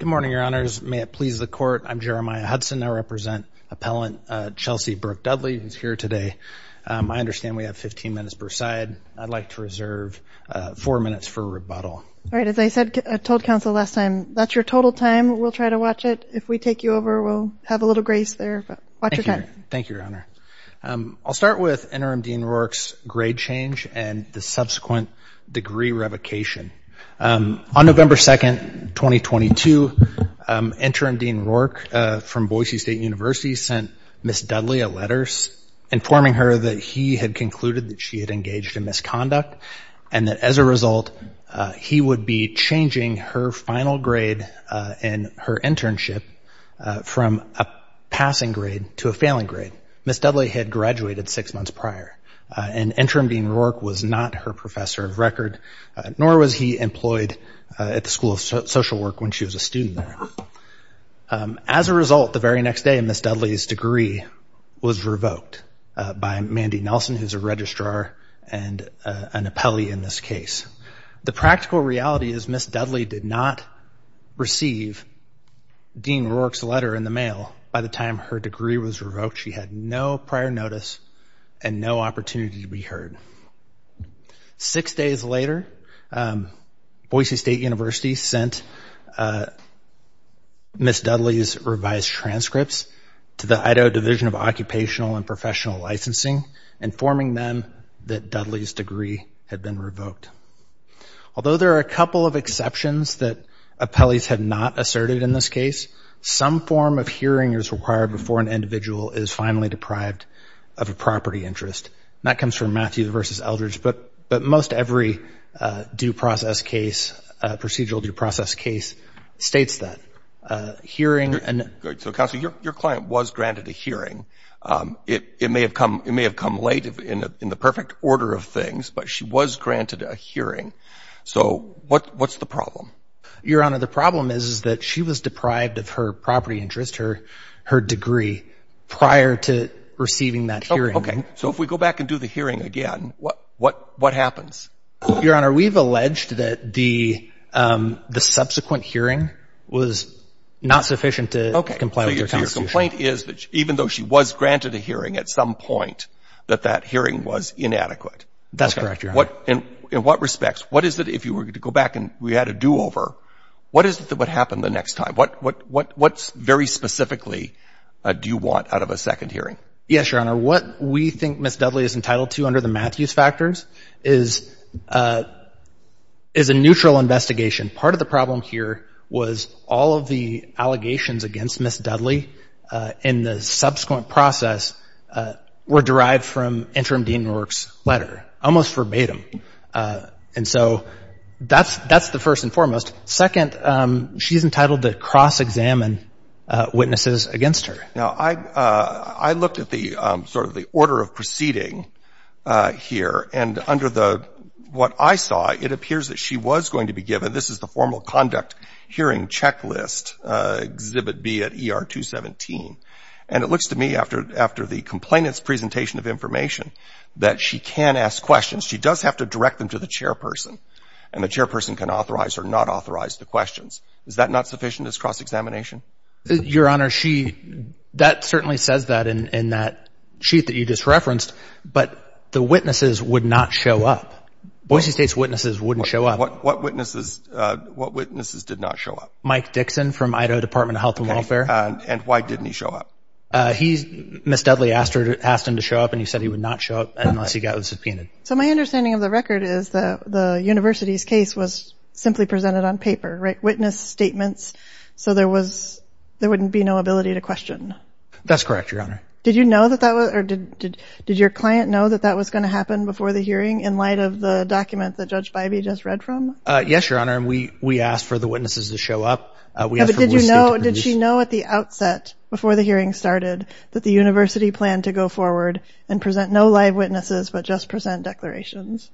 Good morning, Your Honors. May it please the Court, I'm Jeremiah Hudson. I represent Appellant Chelsea Brooke Dudley, who's here today. I understand we have 15 minutes per side. I'd like to reserve four minutes for rebuttal. All right. As I said, I told counsel last time, that's your total time. We'll try to watch it. If we take you over, we'll have a little grace there, but watch your time. Thank you, Your Honor. I'll start with Interim Dean Rourke's grade change and the subsequent degree revocation. On November 2nd, 2022, Interim Dean Rourke from Boise State University sent Ms. Dudley a letter informing her that he had concluded that she had engaged in misconduct and that as a result, he would be changing her final grade in her internship from a passing grade to a failing grade. Ms. Dudley had graduated six months prior and Interim Dean Rourke was not her professor of record, nor was he employed at the School of Social Work when she was a student there. As a result, the very next day, Ms. Dudley's degree was revoked by Mandy Nelson, who's a registrar and an appellee in this case. The practical reality is Ms. Dudley did not receive Dean Rourke's letter in the mail by the time her degree was revoked. She had no prior notice and no opportunity to be heard. Six days later, Boise State University sent Ms. Dudley's revised transcripts to the Idaho Division of Occupational and Professional Licensing informing them that Dudley's degree had been revoked. Although there are a couple of exceptions that appellees have not asserted in this case, some form of hearing is required before an individual is finally deprived of a property interest. And that comes from Matthew versus Eldridge. But most every due process case, procedural due process case, states that. Hearing and... So, Counsel, your client was granted a hearing. It may have come late in the perfect order of things, but she was granted a hearing. So what's the problem? Your Honor, the problem is that she was deprived of her property interest, her degree, prior to receiving that hearing. Okay. So if we go back and do the hearing again, what happens? Your Honor, we've alleged that the subsequent hearing was not sufficient to comply with our Constitution. So your complaint is that even though she was granted a hearing at some point, that that hearing was inadequate. That's correct, Your Honor. In what respects? What is it, if you were to go back and we had a do-over, what is it that would happen the next time? What very specifically do you want out of a second hearing? Yes, Your Honor. What we think Ms. Dudley is entitled to under the Matthews factors is a neutral investigation. Part of the problem here was all of the allegations against Ms. Dudley in the subsequent process were derived from Interim Dean Rourke's letter, almost verbatim. And so that's the first and foremost. Second, she's entitled to cross-examine witnesses against her. Now, I looked at the sort of the order of proceeding here. And under what I saw, it appears that she was going to be given, this is the formal conduct hearing checklist, Exhibit B at ER 217. And it looks to me, after the complainant's presentation of information, that she can ask questions. She does have to direct them to the chairperson. And the chairperson can authorize or not authorize the questions. Is that not sufficient as cross-examination? Your Honor, that certainly says that in that sheet that you just referenced. But the witnesses would not show up. Boise State's witnesses wouldn't show up. What witnesses did not show up? Mike Dixon from Idaho Department of Health and Welfare. And why didn't he show up? Ms. Dudley asked him to show up, and he said he would not show up unless he got subpoenaed. So my understanding of the record is that the university's case was simply presented on paper, right? So there wouldn't be no ability to question. That's correct, Your Honor. Did your client know that that was going to happen before the hearing in light of the document that Judge Bivey just read from? Yes, Your Honor. And we asked for the witnesses to show up. But did she know at the outset, before the hearing started, that the university planned to go forward and present no live witnesses but just present declarations?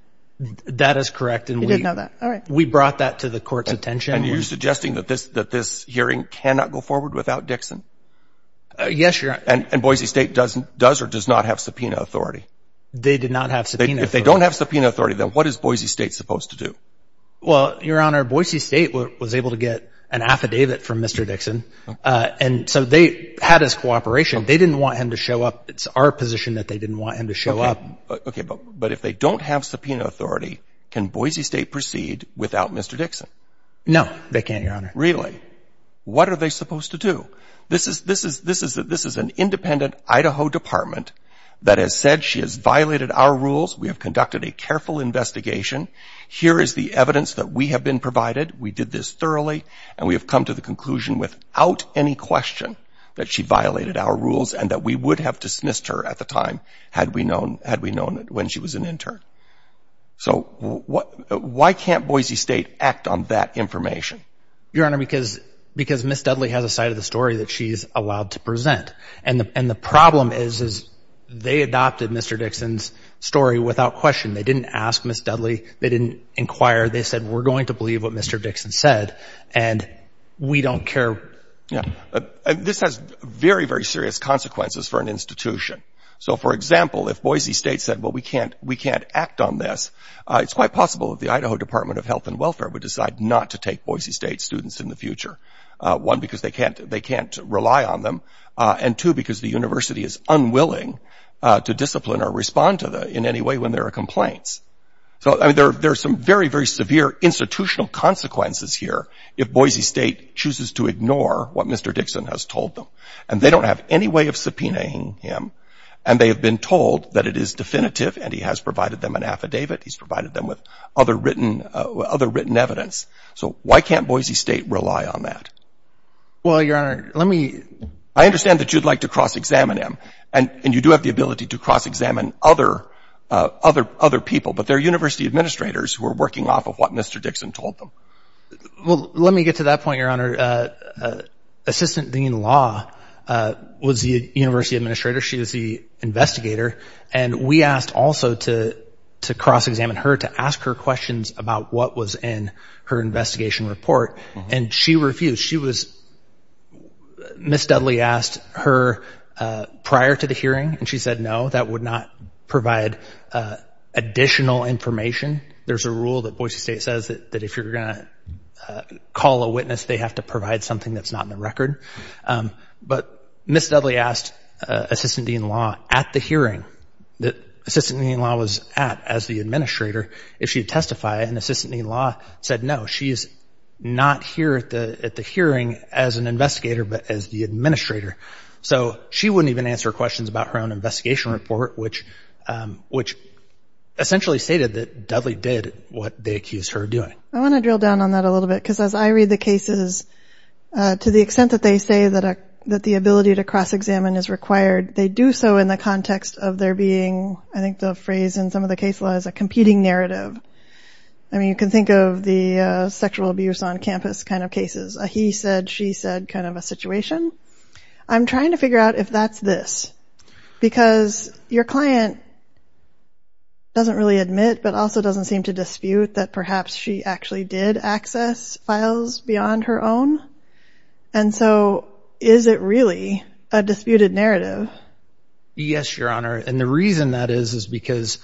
That is correct. We brought that to the court's attention. And you're suggesting that this hearing cannot go forward without Dixon? Yes, Your Honor. And Boise State does or does not have subpoena authority? They did not have subpoena authority. If they don't have subpoena authority, then what is Boise State supposed to do? Well, Your Honor, Boise State was able to get an affidavit from Mr. Dixon, and so they had his cooperation. They didn't want him to show up. It's our position that they didn't want him to show up. Okay, but if they don't have subpoena authority, can Boise State proceed without Mr. Dixon? No, they can't, Your Honor. Really? What are they supposed to do? This is an independent Idaho department that has said she has violated our rules. We have conducted a careful investigation. Here is the evidence that we have been provided. We did this thoroughly. And we have come to the conclusion without any question that she violated our rules and that we would have dismissed her at the time had we known when she was an intern. So why can't Boise State act on that information? Your Honor, because Ms. Dudley has a side of the story that she is allowed to present. And the problem is they adopted Mr. Dixon's story without question. They didn't ask Ms. Dudley. They didn't inquire. They said, we're going to believe what Mr. Dixon said, and we don't care. This has very, very serious consequences for an institution. So, for example, if Boise State said, well, we can't act on this, it's quite possible that the Idaho Department of Health and Welfare would decide not to take Boise State students in the future, one, because they can't rely on them, and two, because the university is unwilling to discipline or respond to them in any way when there are complaints. So, I mean, there are some very, very severe institutional consequences here if Boise State chooses to ignore what Mr. Dixon has told them. And they don't have any way of subpoenaing him, and they have been told that it is definitive and he has provided them an affidavit. He's provided them with other written evidence. So why can't Boise State rely on that? Well, Your Honor, let me – I understand that you'd like to cross-examine him, and you do have the ability to cross-examine other people, but they're university administrators who are working off of what Mr. Dixon told them. Well, let me get to that point, Your Honor. Assistant Dean Law was the university administrator. She was the investigator, and we asked also to cross-examine her, to ask her questions about what was in her investigation report, and she refused. She was – Ms. Dudley asked her prior to the hearing, and she said no, that would not provide additional information. There's a rule that Boise State says that if you're going to call a witness, they have to provide something that's not in the record. But Ms. Dudley asked Assistant Dean Law at the hearing that Assistant Dean Law was at as the administrator if she would testify, and Assistant Dean Law said no. She is not here at the hearing as an investigator but as the administrator. So she wouldn't even answer questions about her own investigation report, which essentially stated that Dudley did what they accused her of doing. I want to drill down on that a little bit, because as I read the cases, to the extent that they say that the ability to cross-examine is required, they do so in the context of there being, I think the phrase in some of the case laws, a competing narrative. I mean, you can think of the sexual abuse on campus kind of cases, a he said, she said kind of a situation. I'm trying to figure out if that's this, because your client doesn't really admit but also doesn't seem to dispute that perhaps she actually did access files beyond her own. And so is it really a disputed narrative? Yes, Your Honor, and the reason that is is because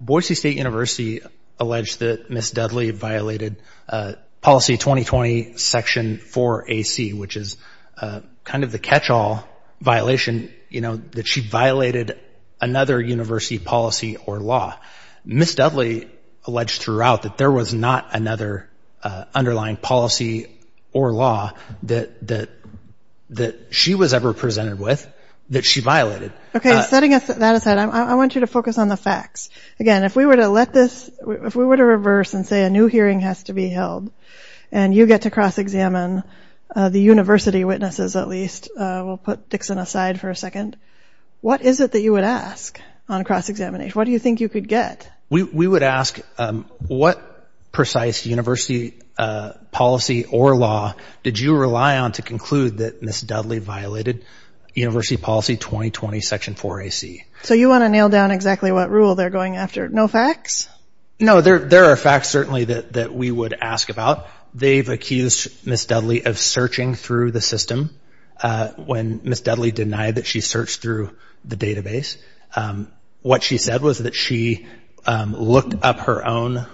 Boise State University alleged that Ms. Dudley violated policy 2020 section 4AC, which is kind of the catch-all violation, you know, that she violated another university policy or law. Ms. Dudley alleged throughout that there was not another underlying policy or law that she was ever presented with that she violated. Okay, setting that aside, I want you to focus on the facts. Again, if we were to let this, if we were to reverse and say a new hearing has to be held and you get to cross-examine the university witnesses at least, we'll put Dixon aside for a second, what is it that you would ask on cross-examination? What do you think you could get? We would ask what precise university policy or law did you rely on to conclude that Ms. Dudley violated university policy 2020 section 4AC? So you want to nail down exactly what rule they're going after? No facts? No, there are facts certainly that we would ask about. They've accused Ms. Dudley of searching through the system when Ms. Dudley denied that she searched through the database. What she said was that she looked up her own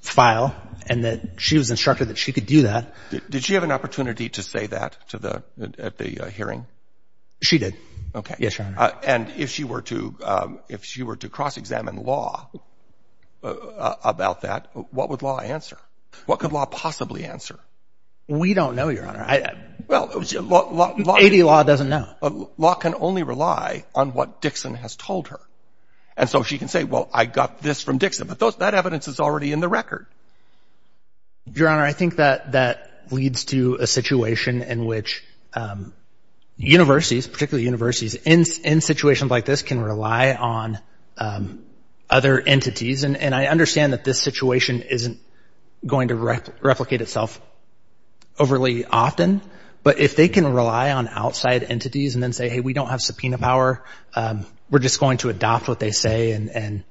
file and that she was instructed that she could do that. Did she have an opportunity to say that at the hearing? She did, yes, Your Honor. Okay, and if she were to cross-examine law about that, what would law answer? What could law possibly answer? We don't know, Your Honor. Well, law— A.D. law doesn't know. Law can only rely on what Dixon has told her. And so she can say, well, I got this from Dixon, but that evidence is already in the record. Your Honor, I think that that leads to a situation in which universities, particularly universities in situations like this, can rely on other entities. And I understand that this situation isn't going to replicate itself overly often, but if they can rely on outside entities and then say, hey, we don't have subpoena power, we're just going to adopt what they say and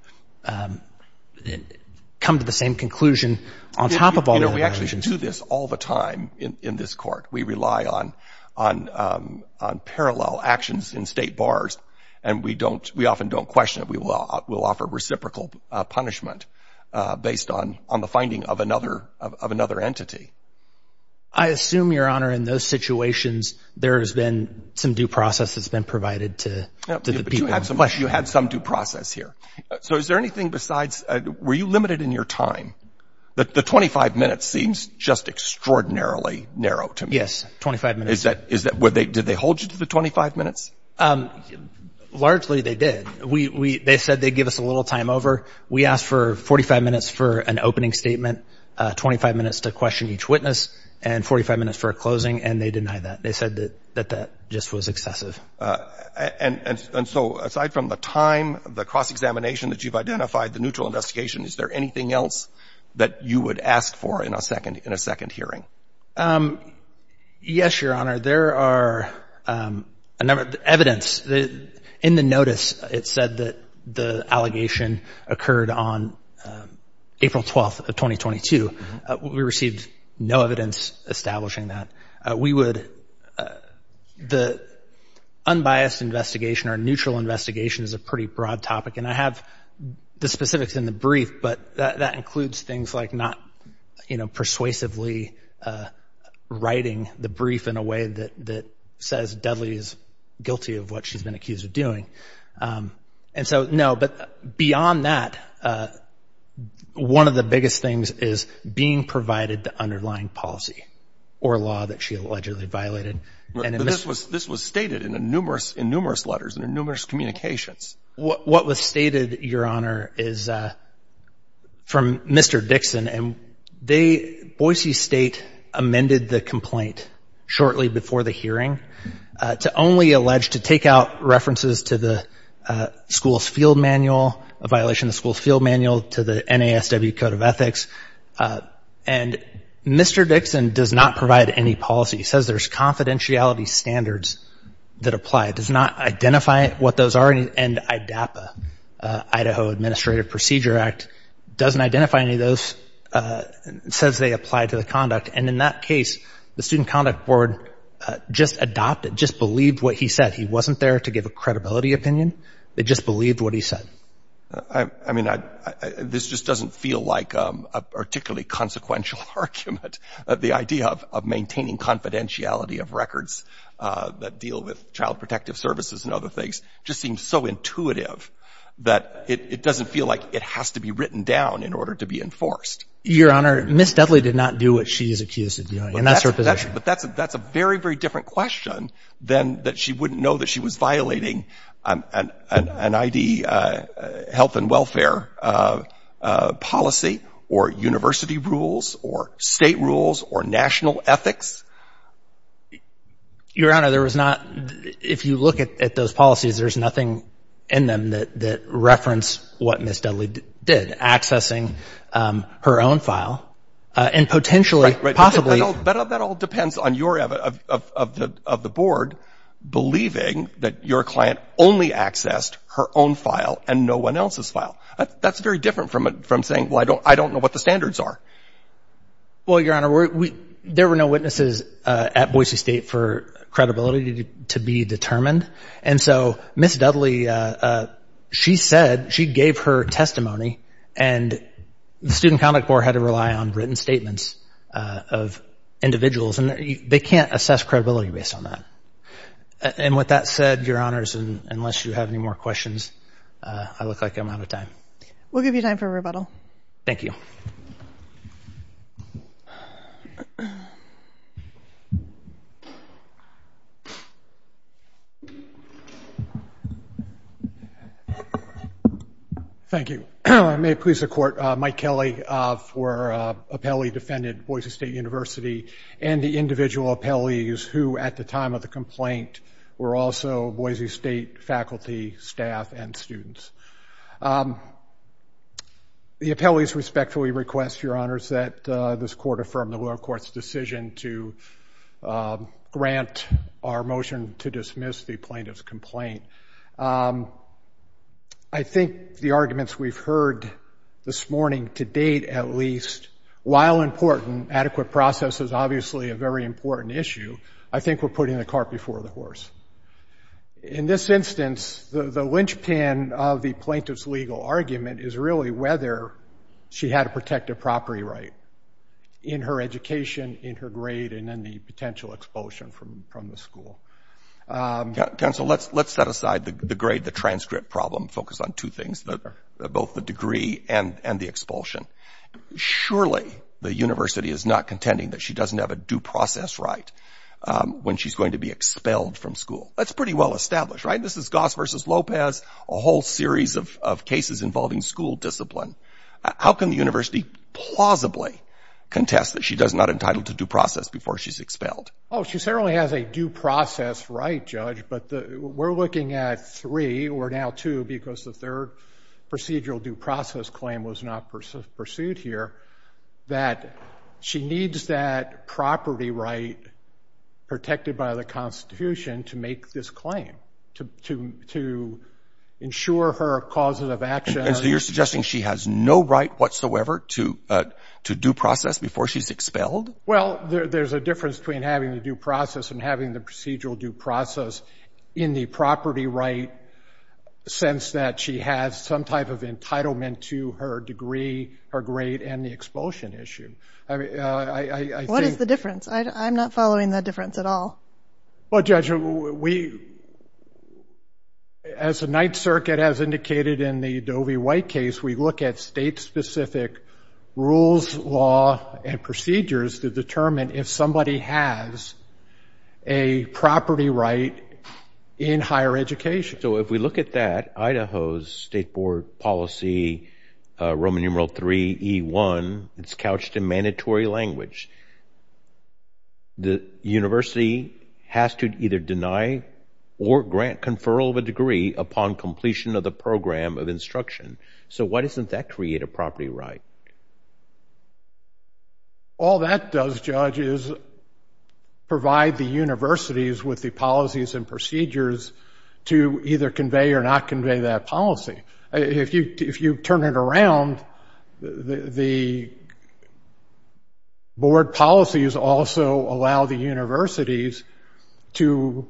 come to the same conclusion on top of all that. You know, we actually do this all the time in this court. We rely on parallel actions in state bars, and we often don't question it. We'll offer reciprocal punishment based on the finding of another entity. I assume, Your Honor, in those situations there has been some due process that's been provided to the people. But you had some due process here. So is there anything besides—were you limited in your time? The 25 minutes seems just extraordinarily narrow to me. Yes, 25 minutes. Is that—did they hold you to the 25 minutes? Largely they did. They said they'd give us a little time over. We asked for 45 minutes for an opening statement, 25 minutes to question each witness, and 45 minutes for a closing, and they denied that. They said that that just was excessive. And so aside from the time, the cross-examination that you've identified, the neutral investigation, is there anything else that you would ask for in a second hearing? Yes, Your Honor. Your Honor, there are a number of evidence. In the notice, it said that the allegation occurred on April 12th of 2022. We received no evidence establishing that. We would—the unbiased investigation or neutral investigation is a pretty broad topic, and I have the specifics in the brief, but that includes things like not, you know, persuasively writing the brief in a way that says Dudley is guilty of what she's been accused of doing. And so, no, but beyond that, one of the biggest things is being provided the underlying policy or law that she allegedly violated. But this was stated in numerous letters and in numerous communications. What was stated, Your Honor, is from Mr. Dixon, and they—Boise State amended the complaint shortly before the hearing to only allege to take out references to the school's field manual, a violation of the school's field manual to the NASW Code of Ethics. And Mr. Dixon does not provide any policy. He says there's confidentiality standards that apply. Does not identify what those are, and IDAPA, Idaho Administrative Procedure Act, doesn't identify any of those, says they apply to the conduct. And in that case, the Student Conduct Board just adopted, just believed what he said. He wasn't there to give a credibility opinion. They just believed what he said. I mean, this just doesn't feel like a particularly consequential argument, that the idea of maintaining confidentiality of records that deal with child protective services and other things just seems so intuitive that it doesn't feel like it has to be written down in order to be enforced. Your Honor, Ms. Dudley did not do what she is accused of doing, and that's her position. But that's a very, very different question than that she wouldn't know that she was violating an ID, health and welfare policy, or university rules, or state rules, or national ethics. Your Honor, there was not, if you look at those policies, there's nothing in them that reference what Ms. Dudley did, accessing her own file, and potentially, possibly. But that all depends on your, of the Board, believing that your client only accessed her own file and no one else's file. That's very different from saying, well, I don't know what the standards are. Well, Your Honor, there were no witnesses at Boise State for credibility to be determined. And so Ms. Dudley, she said, she gave her testimony, and the Student Conduct Board had to rely on written statements of individuals. And they can't assess credibility based on that. And with that said, Your Honors, unless you have any more questions, I look like I'm out of time. We'll give you time for rebuttal. Thank you. Thank you. May it please the Court, Mike Kelly for appellee defended Boise State University, and the individual appellees who, at the time of the complaint, were also Boise State faculty, staff, and students. The appellees respectfully request, Your Honors, that this Court affirm the lower court's decision to grant our motion to dismiss the plaintiff's complaint. I think the arguments we've heard this morning, to date at least, while important, adequate process is obviously a very important issue, I think we're putting the cart before the horse. In this instance, the linchpin of the plaintiff's legal argument is really whether she had a protective property right in her education, in her grade, and in the potential expulsion from the school. Counsel, let's set aside the grade, the transcript problem, and focus on two things, both the degree and the expulsion. Surely, the university is not contending that she doesn't have a due process right when she's going to be expelled from school. That's pretty well established, right? This is Goss versus Lopez, a whole series of cases involving school discipline. How can the university plausibly contest that she's not entitled to due process before she's expelled? Oh, she certainly has a due process right, Judge. But we're looking at three, or now two, because the third procedural due process claim was not pursued here, that she needs that property right protected by the Constitution to make this claim, to ensure her causes of action. And so you're suggesting she has no right whatsoever to due process before she's expelled? Well, there's a difference between having the due process and having the procedural due process in the property right sense that she has some type of entitlement to her degree, her grade, and the expulsion issue. What is the difference? I'm not following the difference at all. Well, Judge, as the Ninth Circuit has indicated in the Dovey-White case, we look at state-specific rules, law, and procedures to determine if somebody has a property right in higher education. So if we look at that, Idaho's State Board policy, Roman numeral 3E1, it's couched in mandatory language. The university has to either deny or grant conferral of a degree upon completion of the program of instruction. So why doesn't that create a property right? All that does, Judge, is provide the universities with the policies and procedures to either convey or not convey that policy. If you turn it around, the board policies also allow the universities to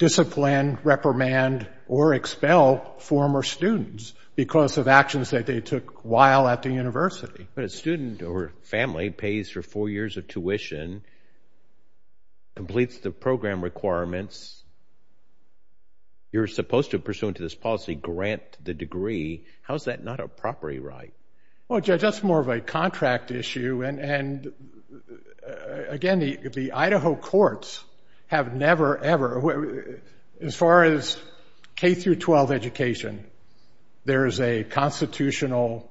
discipline, reprimand, or expel former students because of actions that they took while at the university. But a student or family pays for four years of tuition, completes the program requirements. You're supposed to, pursuant to this policy, grant the degree. How is that not a property right? Well, Judge, that's more of a contract issue. And again, the Idaho courts have never, ever, as far as K-12 education, there is a constitutional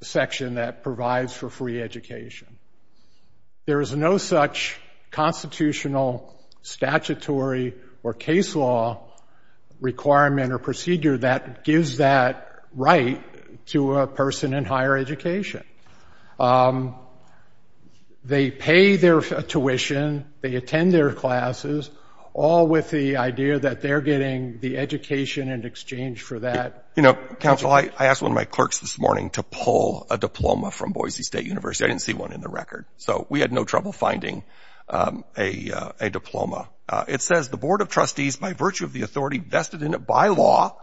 section that provides for free education. There is no such constitutional, statutory, or case law requirement or procedure that gives that right to a person in higher education. They pay their tuition, they attend their classes, all with the idea that they're getting the education in exchange for that. You know, counsel, I asked one of my clerks this morning to pull a diploma from Boise State University. I didn't see one in the record. So we had no trouble finding a diploma. It says, the Board of Trustees, by virtue of the authority vested in it by law,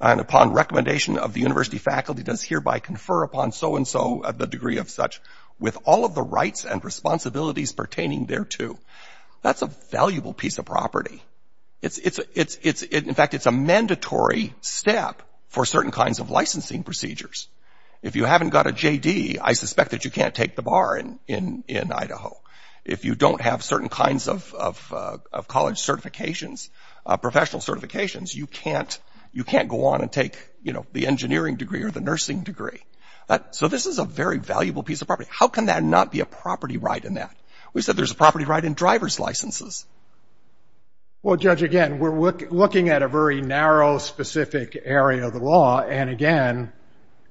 and upon recommendation of the university faculty, does hereby confer upon so-and-so the degree of such with all of the rights and responsibilities pertaining thereto. That's a valuable piece of property. In fact, it's a mandatory step for certain kinds of licensing procedures. If you haven't got a JD, I suspect that you can't take the bar in Idaho. If you don't have certain kinds of college certifications, professional certifications, you can't go on and take the engineering degree or the nursing degree. So this is a very valuable piece of property. How can that not be a property right in that? We said there's a property right in driver's licenses. Well, Judge, again, we're looking at a very narrow, specific area of the law. And again,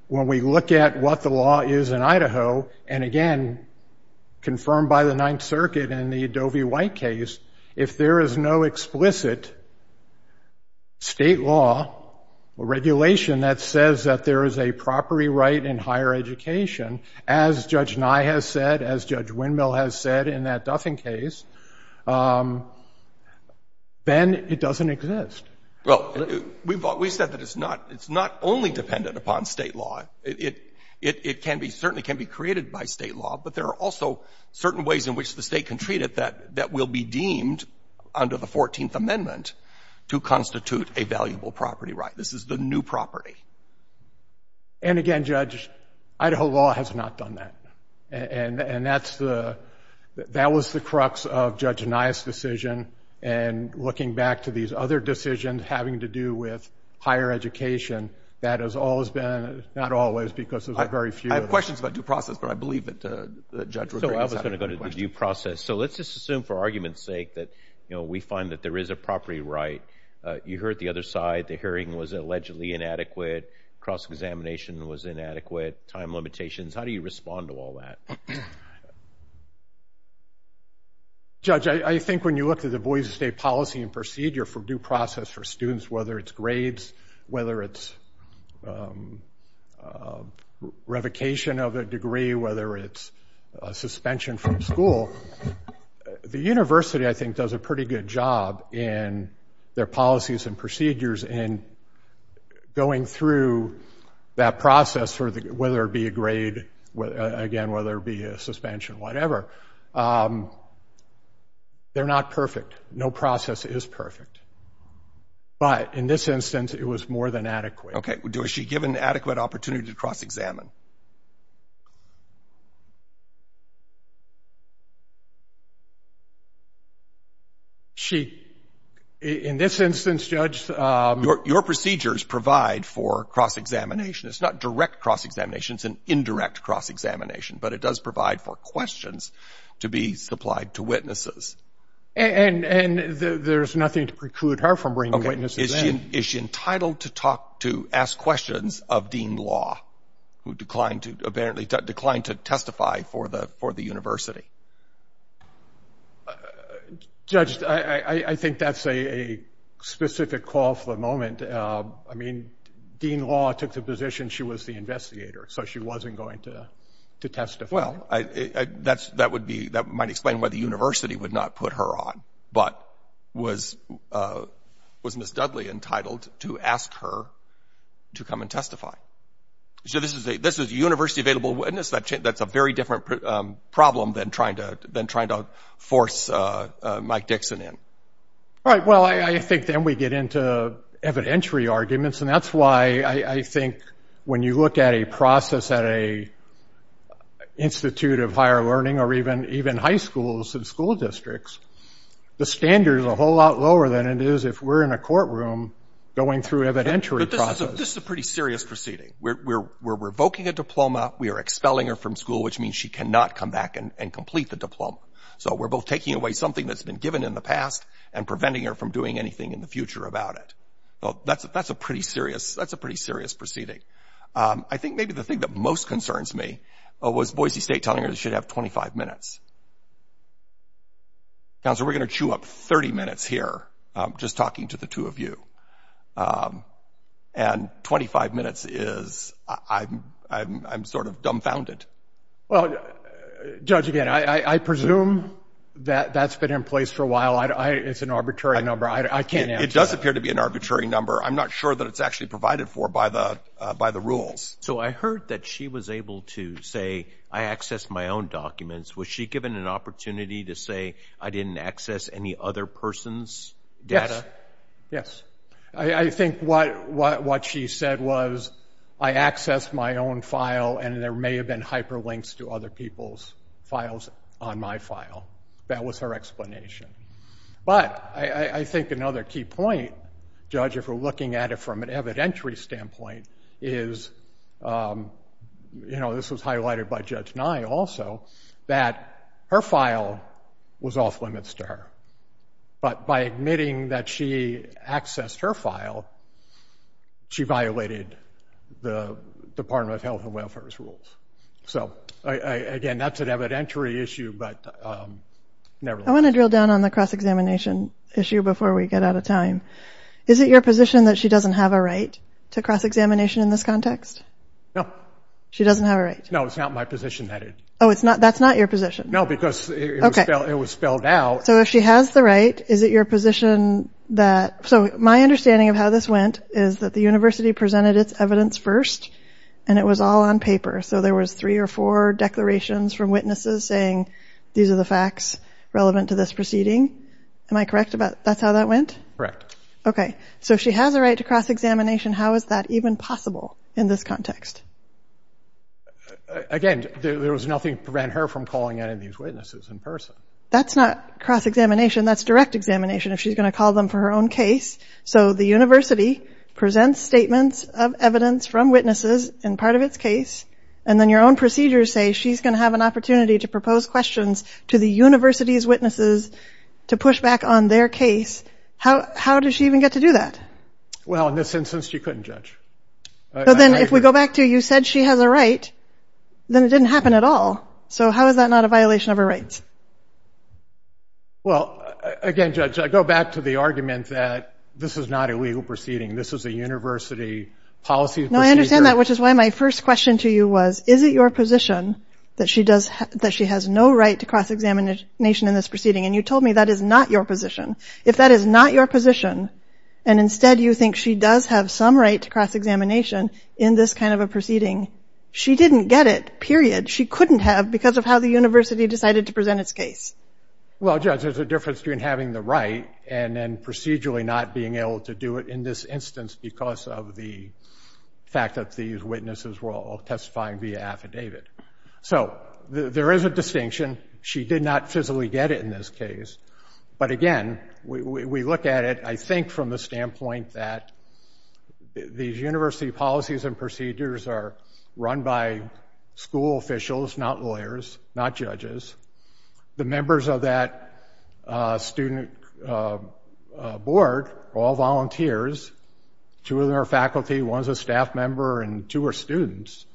when we look at what the law is in Idaho, and again, confirmed by the Ninth Circuit in the Adobe White case, if there is no explicit state law or regulation that says that there is a property right in higher education, as Judge Nye has said, as Judge Windmill has said in that Duffin case, then it doesn't exist. Well, we've said that it's not only dependent upon state law. It certainly can be created by state law, but there are also certain ways in which the state can treat it that will be deemed under the 14th Amendment to constitute a valuable property right. This is the new property. And again, Judge, Idaho law has not done that. And that was the crux of Judge Nye's decision. And looking back to these other decisions having to do with higher education, that has always been, not always, because there's a very few of them. I have questions about due process, but I believe that the judge was right. So I was going to go to due process. So let's just assume for argument's sake that we find that there is a property right. You heard the other side. The hearing was allegedly inadequate. Cross-examination was inadequate. Time limitations. How do you respond to all that? Judge, I think when you look at the Boise State policy and procedure for due process for students, whether it's grades, whether it's revocation of a degree, whether it's suspension from school, the university, I think, does a pretty good job in their policies and procedures in going through that process, whether it be a grade, again, whether it be a suspension, whatever. They're not perfect. No process is perfect. But in this instance, it was more than adequate. Okay. Was she given adequate opportunity to cross-examine? She, in this instance, Judge. Your procedures provide for cross-examination. It's not direct cross-examination. It's an indirect cross-examination, but it does provide for questions to be supplied to witnesses. And there's nothing to preclude her from bringing witnesses in. Is she entitled to talk to ask questions of Dean Law, who declined to testify for the university? Judge, I think that's a specific call for the moment. I mean, Dean Law took the position she was the investigator, so she wasn't going to testify. Well, that might explain why the university would not put her on, but was Ms. Dudley entitled to ask her to come and testify? So this is a university-available witness. That's a very different problem than trying to force Mike Dixon in. All right. Well, I think then we get into evidentiary arguments, and that's why I think when you look at a process at an institute of higher learning or even high schools and school districts, the standard is a whole lot lower than it is if we're in a courtroom going through evidentiary process. But this is a pretty serious proceeding. We're revoking a diploma. We are expelling her from school, which means she cannot come back and complete the diploma. So we're both taking away something that's been given in the past and preventing her from doing anything in the future about it. Well, that's a pretty serious proceeding. I think maybe the thing that most concerns me was Boise State telling her she should have 25 minutes. Counselor, we're going to chew up 30 minutes here just talking to the two of you, and 25 minutes is, I'm sort of dumbfounded. Well, Judge, again, I presume that that's been in place for a while. It's an arbitrary number. I can't answer that. It does appear to be an arbitrary number. I'm not sure that it's actually provided for by the rules. So I heard that she was able to say, I accessed my own documents. Was she given an opportunity to say, I didn't access any other person's data? Yes. I think what she said was, I accessed my own file, and there may have been hyperlinks to other people's files on my file. That was her explanation. But I think another key point, Judge, if we're looking at it from an evidentiary standpoint, is this was highlighted by Judge Nye also, that her file was off-limits to her. But by admitting that she accessed her file, she violated the Department of Health and Welfare's rules. So, again, that's an evidentiary issue, but nevertheless. I want to drill down on the cross-examination issue before we get out of time. Is it your position that she doesn't have a right to cross-examination in this context? No. She doesn't have a right? No, it's not my position that it is. Oh, that's not your position? No, because it was spelled out. So if she has the right, is it your position that – so my understanding of how this went is that the university presented its evidence first, and it was all on paper. So there was three or four declarations from witnesses saying, these are the facts relevant to this proceeding. Am I correct about that's how that went? Okay. So if she has a right to cross-examination, how is that even possible in this context? Again, there was nothing to prevent her from calling any of these witnesses in person. That's not cross-examination. That's direct examination if she's going to call them for her own case. So the university presents statements of evidence from witnesses in part of its case, and then your own procedures say she's going to have an opportunity to propose questions to the university's witnesses to push back on their case. How does she even get to do that? Well, in this instance, she couldn't, Judge. But then if we go back to you said she has a right, then it didn't happen at all. So how is that not a violation of her rights? Well, again, Judge, I go back to the argument that this is not a legal proceeding. This is a university policy procedure. No, I understand that, which is why my first question to you was, is it your position that she has no right to cross-examination in this proceeding? And you told me that is not your position. If that is not your position, and instead you think she does have some right to cross-examination in this kind of a proceeding, she didn't get it, period. She couldn't have because of how the university decided to present its case. Well, Judge, there's a difference between having the right and then procedurally not being able to do it in this instance because of the fact that these witnesses were all testifying via affidavit. So there is a distinction. She did not physically get it in this case. But, again, we look at it, I think, from the standpoint that these university policies and procedures are run by school officials, not lawyers, not judges. The members of that student board are all volunteers. Two of them are faculty. One is a staff member, and two are students.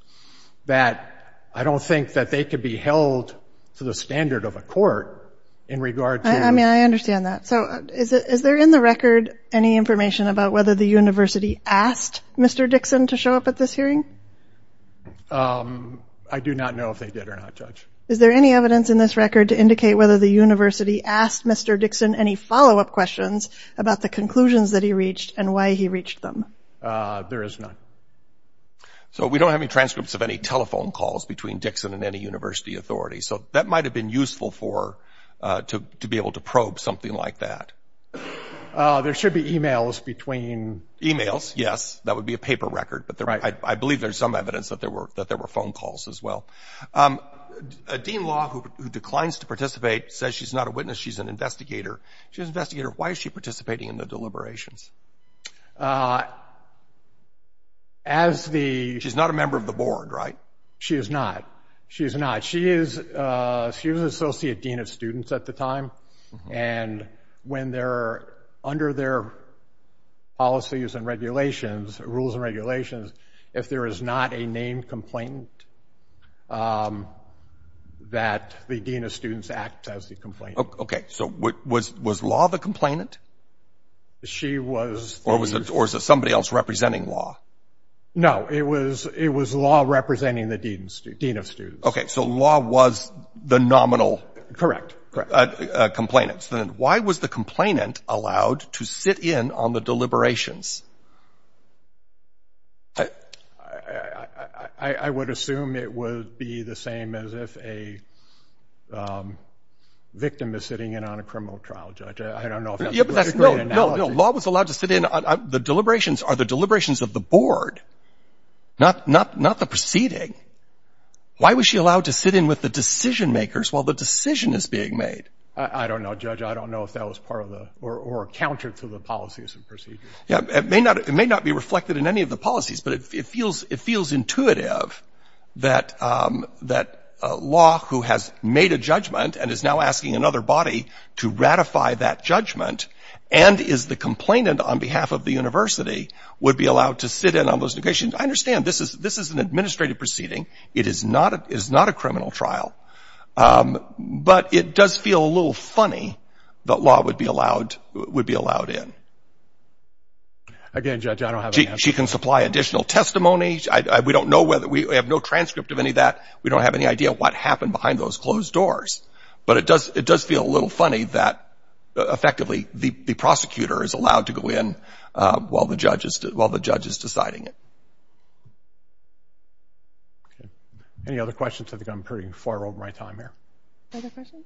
I don't think that they could be held to the standard of a court in regard to— I mean, I understand that. So is there in the record any information about whether the university asked Mr. Dixon to show up at this hearing? I do not know if they did or not, Judge. Is there any evidence in this record to indicate whether the university asked Mr. Dixon any follow-up questions about the conclusions that he reached and why he reached them? There is none. So we don't have any transcripts of any telephone calls between Dixon and any university authority, so that might have been useful to be able to probe something like that. There should be e-mails between— E-mails, yes. That would be a paper record. But I believe there's some evidence that there were phone calls as well. Dean Law, who declines to participate, says she's not a witness. She's an investigator. She's an investigator. Why is she participating in the deliberations? As the— She's not a member of the board, right? She is not. She is not. She is an associate dean of students at the time, and when they're— under their policies and regulations, rules and regulations, if there is not a named complainant, that the dean of students acts as the complainant. Okay. So was Law the complainant? She was the— Or was it somebody else representing Law? No. It was Law representing the dean of students. Okay. So Law was the nominal— Correct, correct. —complainant. Then why was the complainant allowed to sit in on the deliberations? I would assume it would be the same as if a victim is sitting in on a criminal trial, Judge. I don't know if that's a great analogy. No, no. Law was allowed to sit in. The deliberations are the deliberations of the board, not the proceeding. Why was she allowed to sit in with the decision-makers while the decision is being made? I don't know, Judge. I don't know if that was part of the—or counter to the policies and procedures. It may not be reflected in any of the policies, but it feels intuitive that Law, who has made a judgment and is now asking another body to ratify that judgment and is the complainant on behalf of the university, would be allowed to sit in on those negotiations. I understand. This is an administrative proceeding. It is not a criminal trial. But it does feel a little funny that Law would be allowed in. Again, Judge, I don't have— She can supply additional testimony. We don't know whether—we have no transcript of any of that. We don't have any idea what happened behind those closed doors. But it does feel a little funny that, effectively, the prosecutor is allowed to go in while the judge is deciding it. Any other questions? I think I'm pretty far over my time here. Other questions?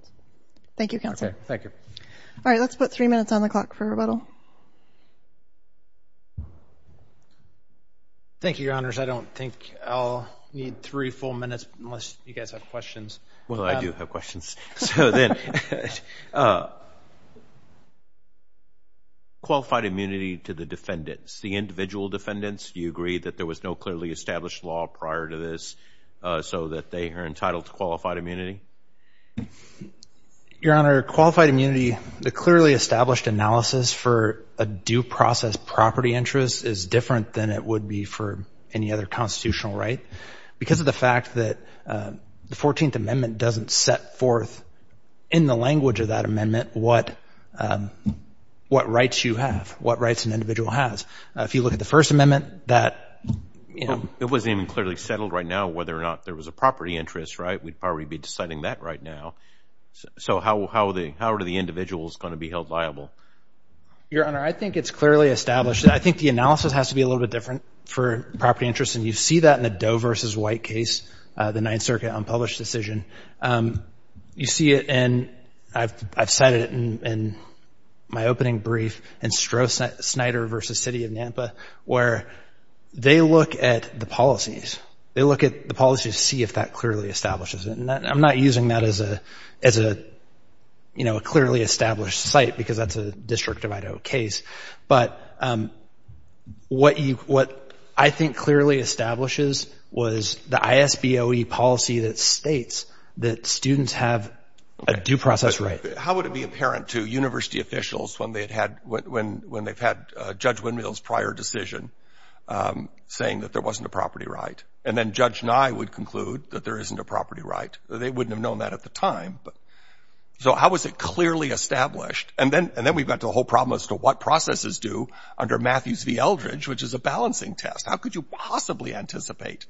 Thank you, Counselor. Okay, thank you. All right, let's put three minutes on the clock for rebuttal. Thank you, Your Honors. I don't think I'll need three full minutes unless you guys have questions. Well, I do have questions. So then, qualified immunity to the defendants, the individual defendants, do you agree that there was no clearly established law prior to this so that they are entitled to qualified immunity? Your Honor, qualified immunity, the clearly established analysis for a due process property interest is different than it would be for any other constitutional right. Because of the fact that the 14th Amendment doesn't set forth, in the language of that amendment, what rights you have, what rights an individual has. If you look at the First Amendment, that, you know. It wasn't even clearly settled right now whether or not there was a property interest, right? We'd probably be deciding that right now. So how are the individuals going to be held liable? Your Honor, I think it's clearly established. I think the analysis has to be a little bit different for property interest, and you see that in the Doe v. White case, the Ninth Circuit unpublished decision. You see it, and I've cited it in my opening brief, in Stroh-Snyder v. City of Nampa, where they look at the policies. They look at the policies to see if that clearly establishes it. I'm not using that as a, you know, a clearly established site because that's a District of Idaho case. But what you, what I think clearly establishes was the ISBOE policy that states that students have a due process right. How would it be apparent to university officials when they had had, when they've had Judge Windmill's prior decision saying that there wasn't a property right? And then Judge Nye would conclude that there isn't a property right. They wouldn't have known that at the time. So how was it clearly established? And then we've got the whole problem as to what processes do under Matthews v. Eldridge, which is a balancing test. How could you possibly anticipate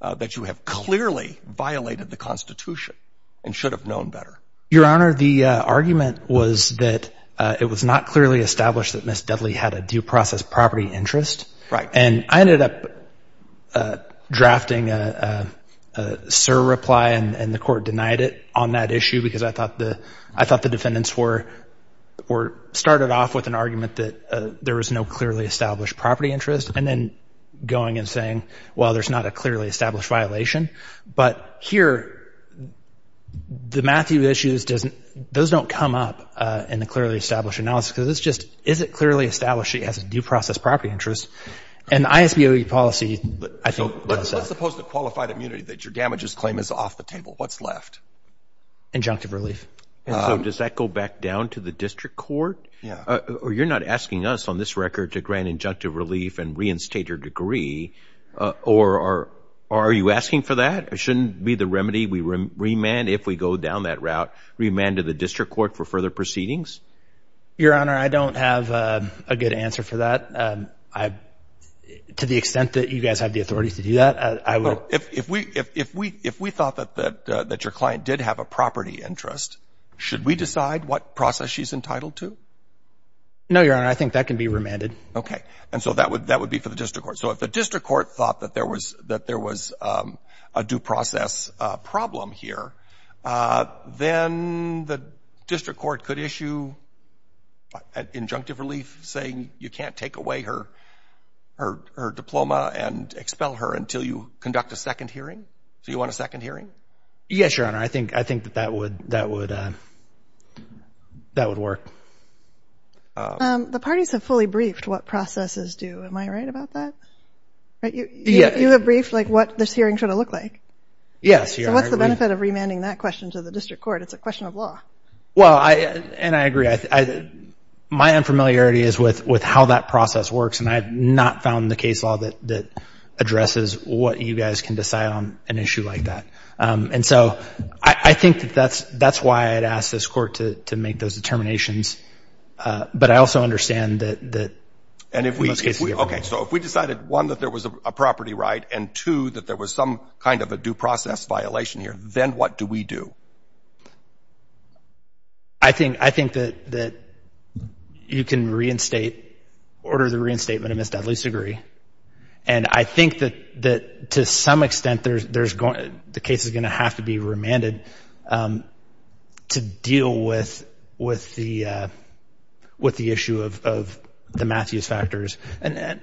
that you have clearly violated the Constitution and should have known better? Your Honor, the argument was that it was not clearly established that Ms. Dudley had a due process property interest. Right. And I ended up drafting a surreply, and the court denied it on that issue because I thought the defendants were, started off with an argument that there was no clearly established property interest, and then going and saying, well, there's not a clearly established violation. But here, the Matthew issues doesn't, those don't come up in the clearly established analysis because it's just, is it clearly established that she has a due process property interest? And the ISBOE policy, I think, does that. So let's suppose the qualified immunity that your damages claim is off the table. What's left? Injunctive relief. And so does that go back down to the district court? Yeah. Or you're not asking us on this record to grant injunctive relief and reinstate your degree, or are you asking for that? It shouldn't be the remedy we remand if we go down that route, remand to the district court for further proceedings? Your Honor, I don't have a good answer for that. I, to the extent that you guys have the authority to do that, I would. So if we thought that your client did have a property interest, should we decide what process she's entitled to? No, Your Honor. I think that can be remanded. Okay. And so that would be for the district court. So if the district court thought that there was a due process problem here, then the district court could issue injunctive relief saying you can't take away her diploma and expel her until you conduct a second hearing? So you want a second hearing? Yes, Your Honor. I think that that would work. The parties have fully briefed what processes do. Am I right about that? You have briefed like what this hearing should have looked like? Yes, Your Honor. So what's the benefit of remanding that question to the district court? It's a question of law. Well, and I agree. My unfamiliarity is with how that process works, and I have not found the case law that addresses what you guys can decide on an issue like that. And so I think that that's why I'd ask this court to make those determinations. But I also understand that in most cases. Okay, so if we decided, one, that there was a property right, and, two, that there was some kind of a due process violation here, then what do we do? I think that you can reinstate, order the reinstatement of Ms. Dudley's degree. And I think that to some extent the case is going to have to be remanded to deal with the issue of the Matthews factors. And,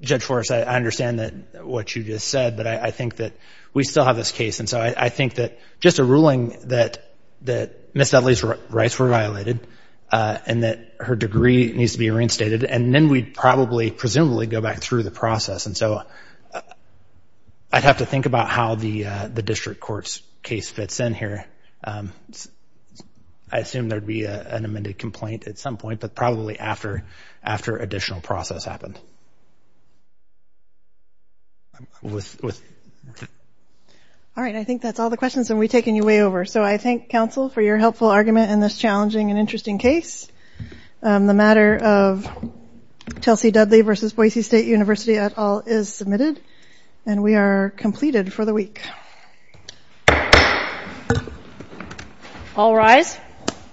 Judge Forrest, I understand what you just said, but I think that we still have this case. And so I think that just a ruling that Ms. Dudley's rights were violated and that her degree needs to be reinstated, and then we'd probably presumably go back through the process. And so I'd have to think about how the district court's case fits in here. I assume there'd be an amended complaint at some point, but probably after additional process happened. I'm with you. All right, I think that's all the questions, and we've taken you way over. So I thank counsel for your helpful argument in this challenging and interesting case. The matter of Chelsea Dudley v. Boise State University et al. is submitted, and we are completed for the week. All rise.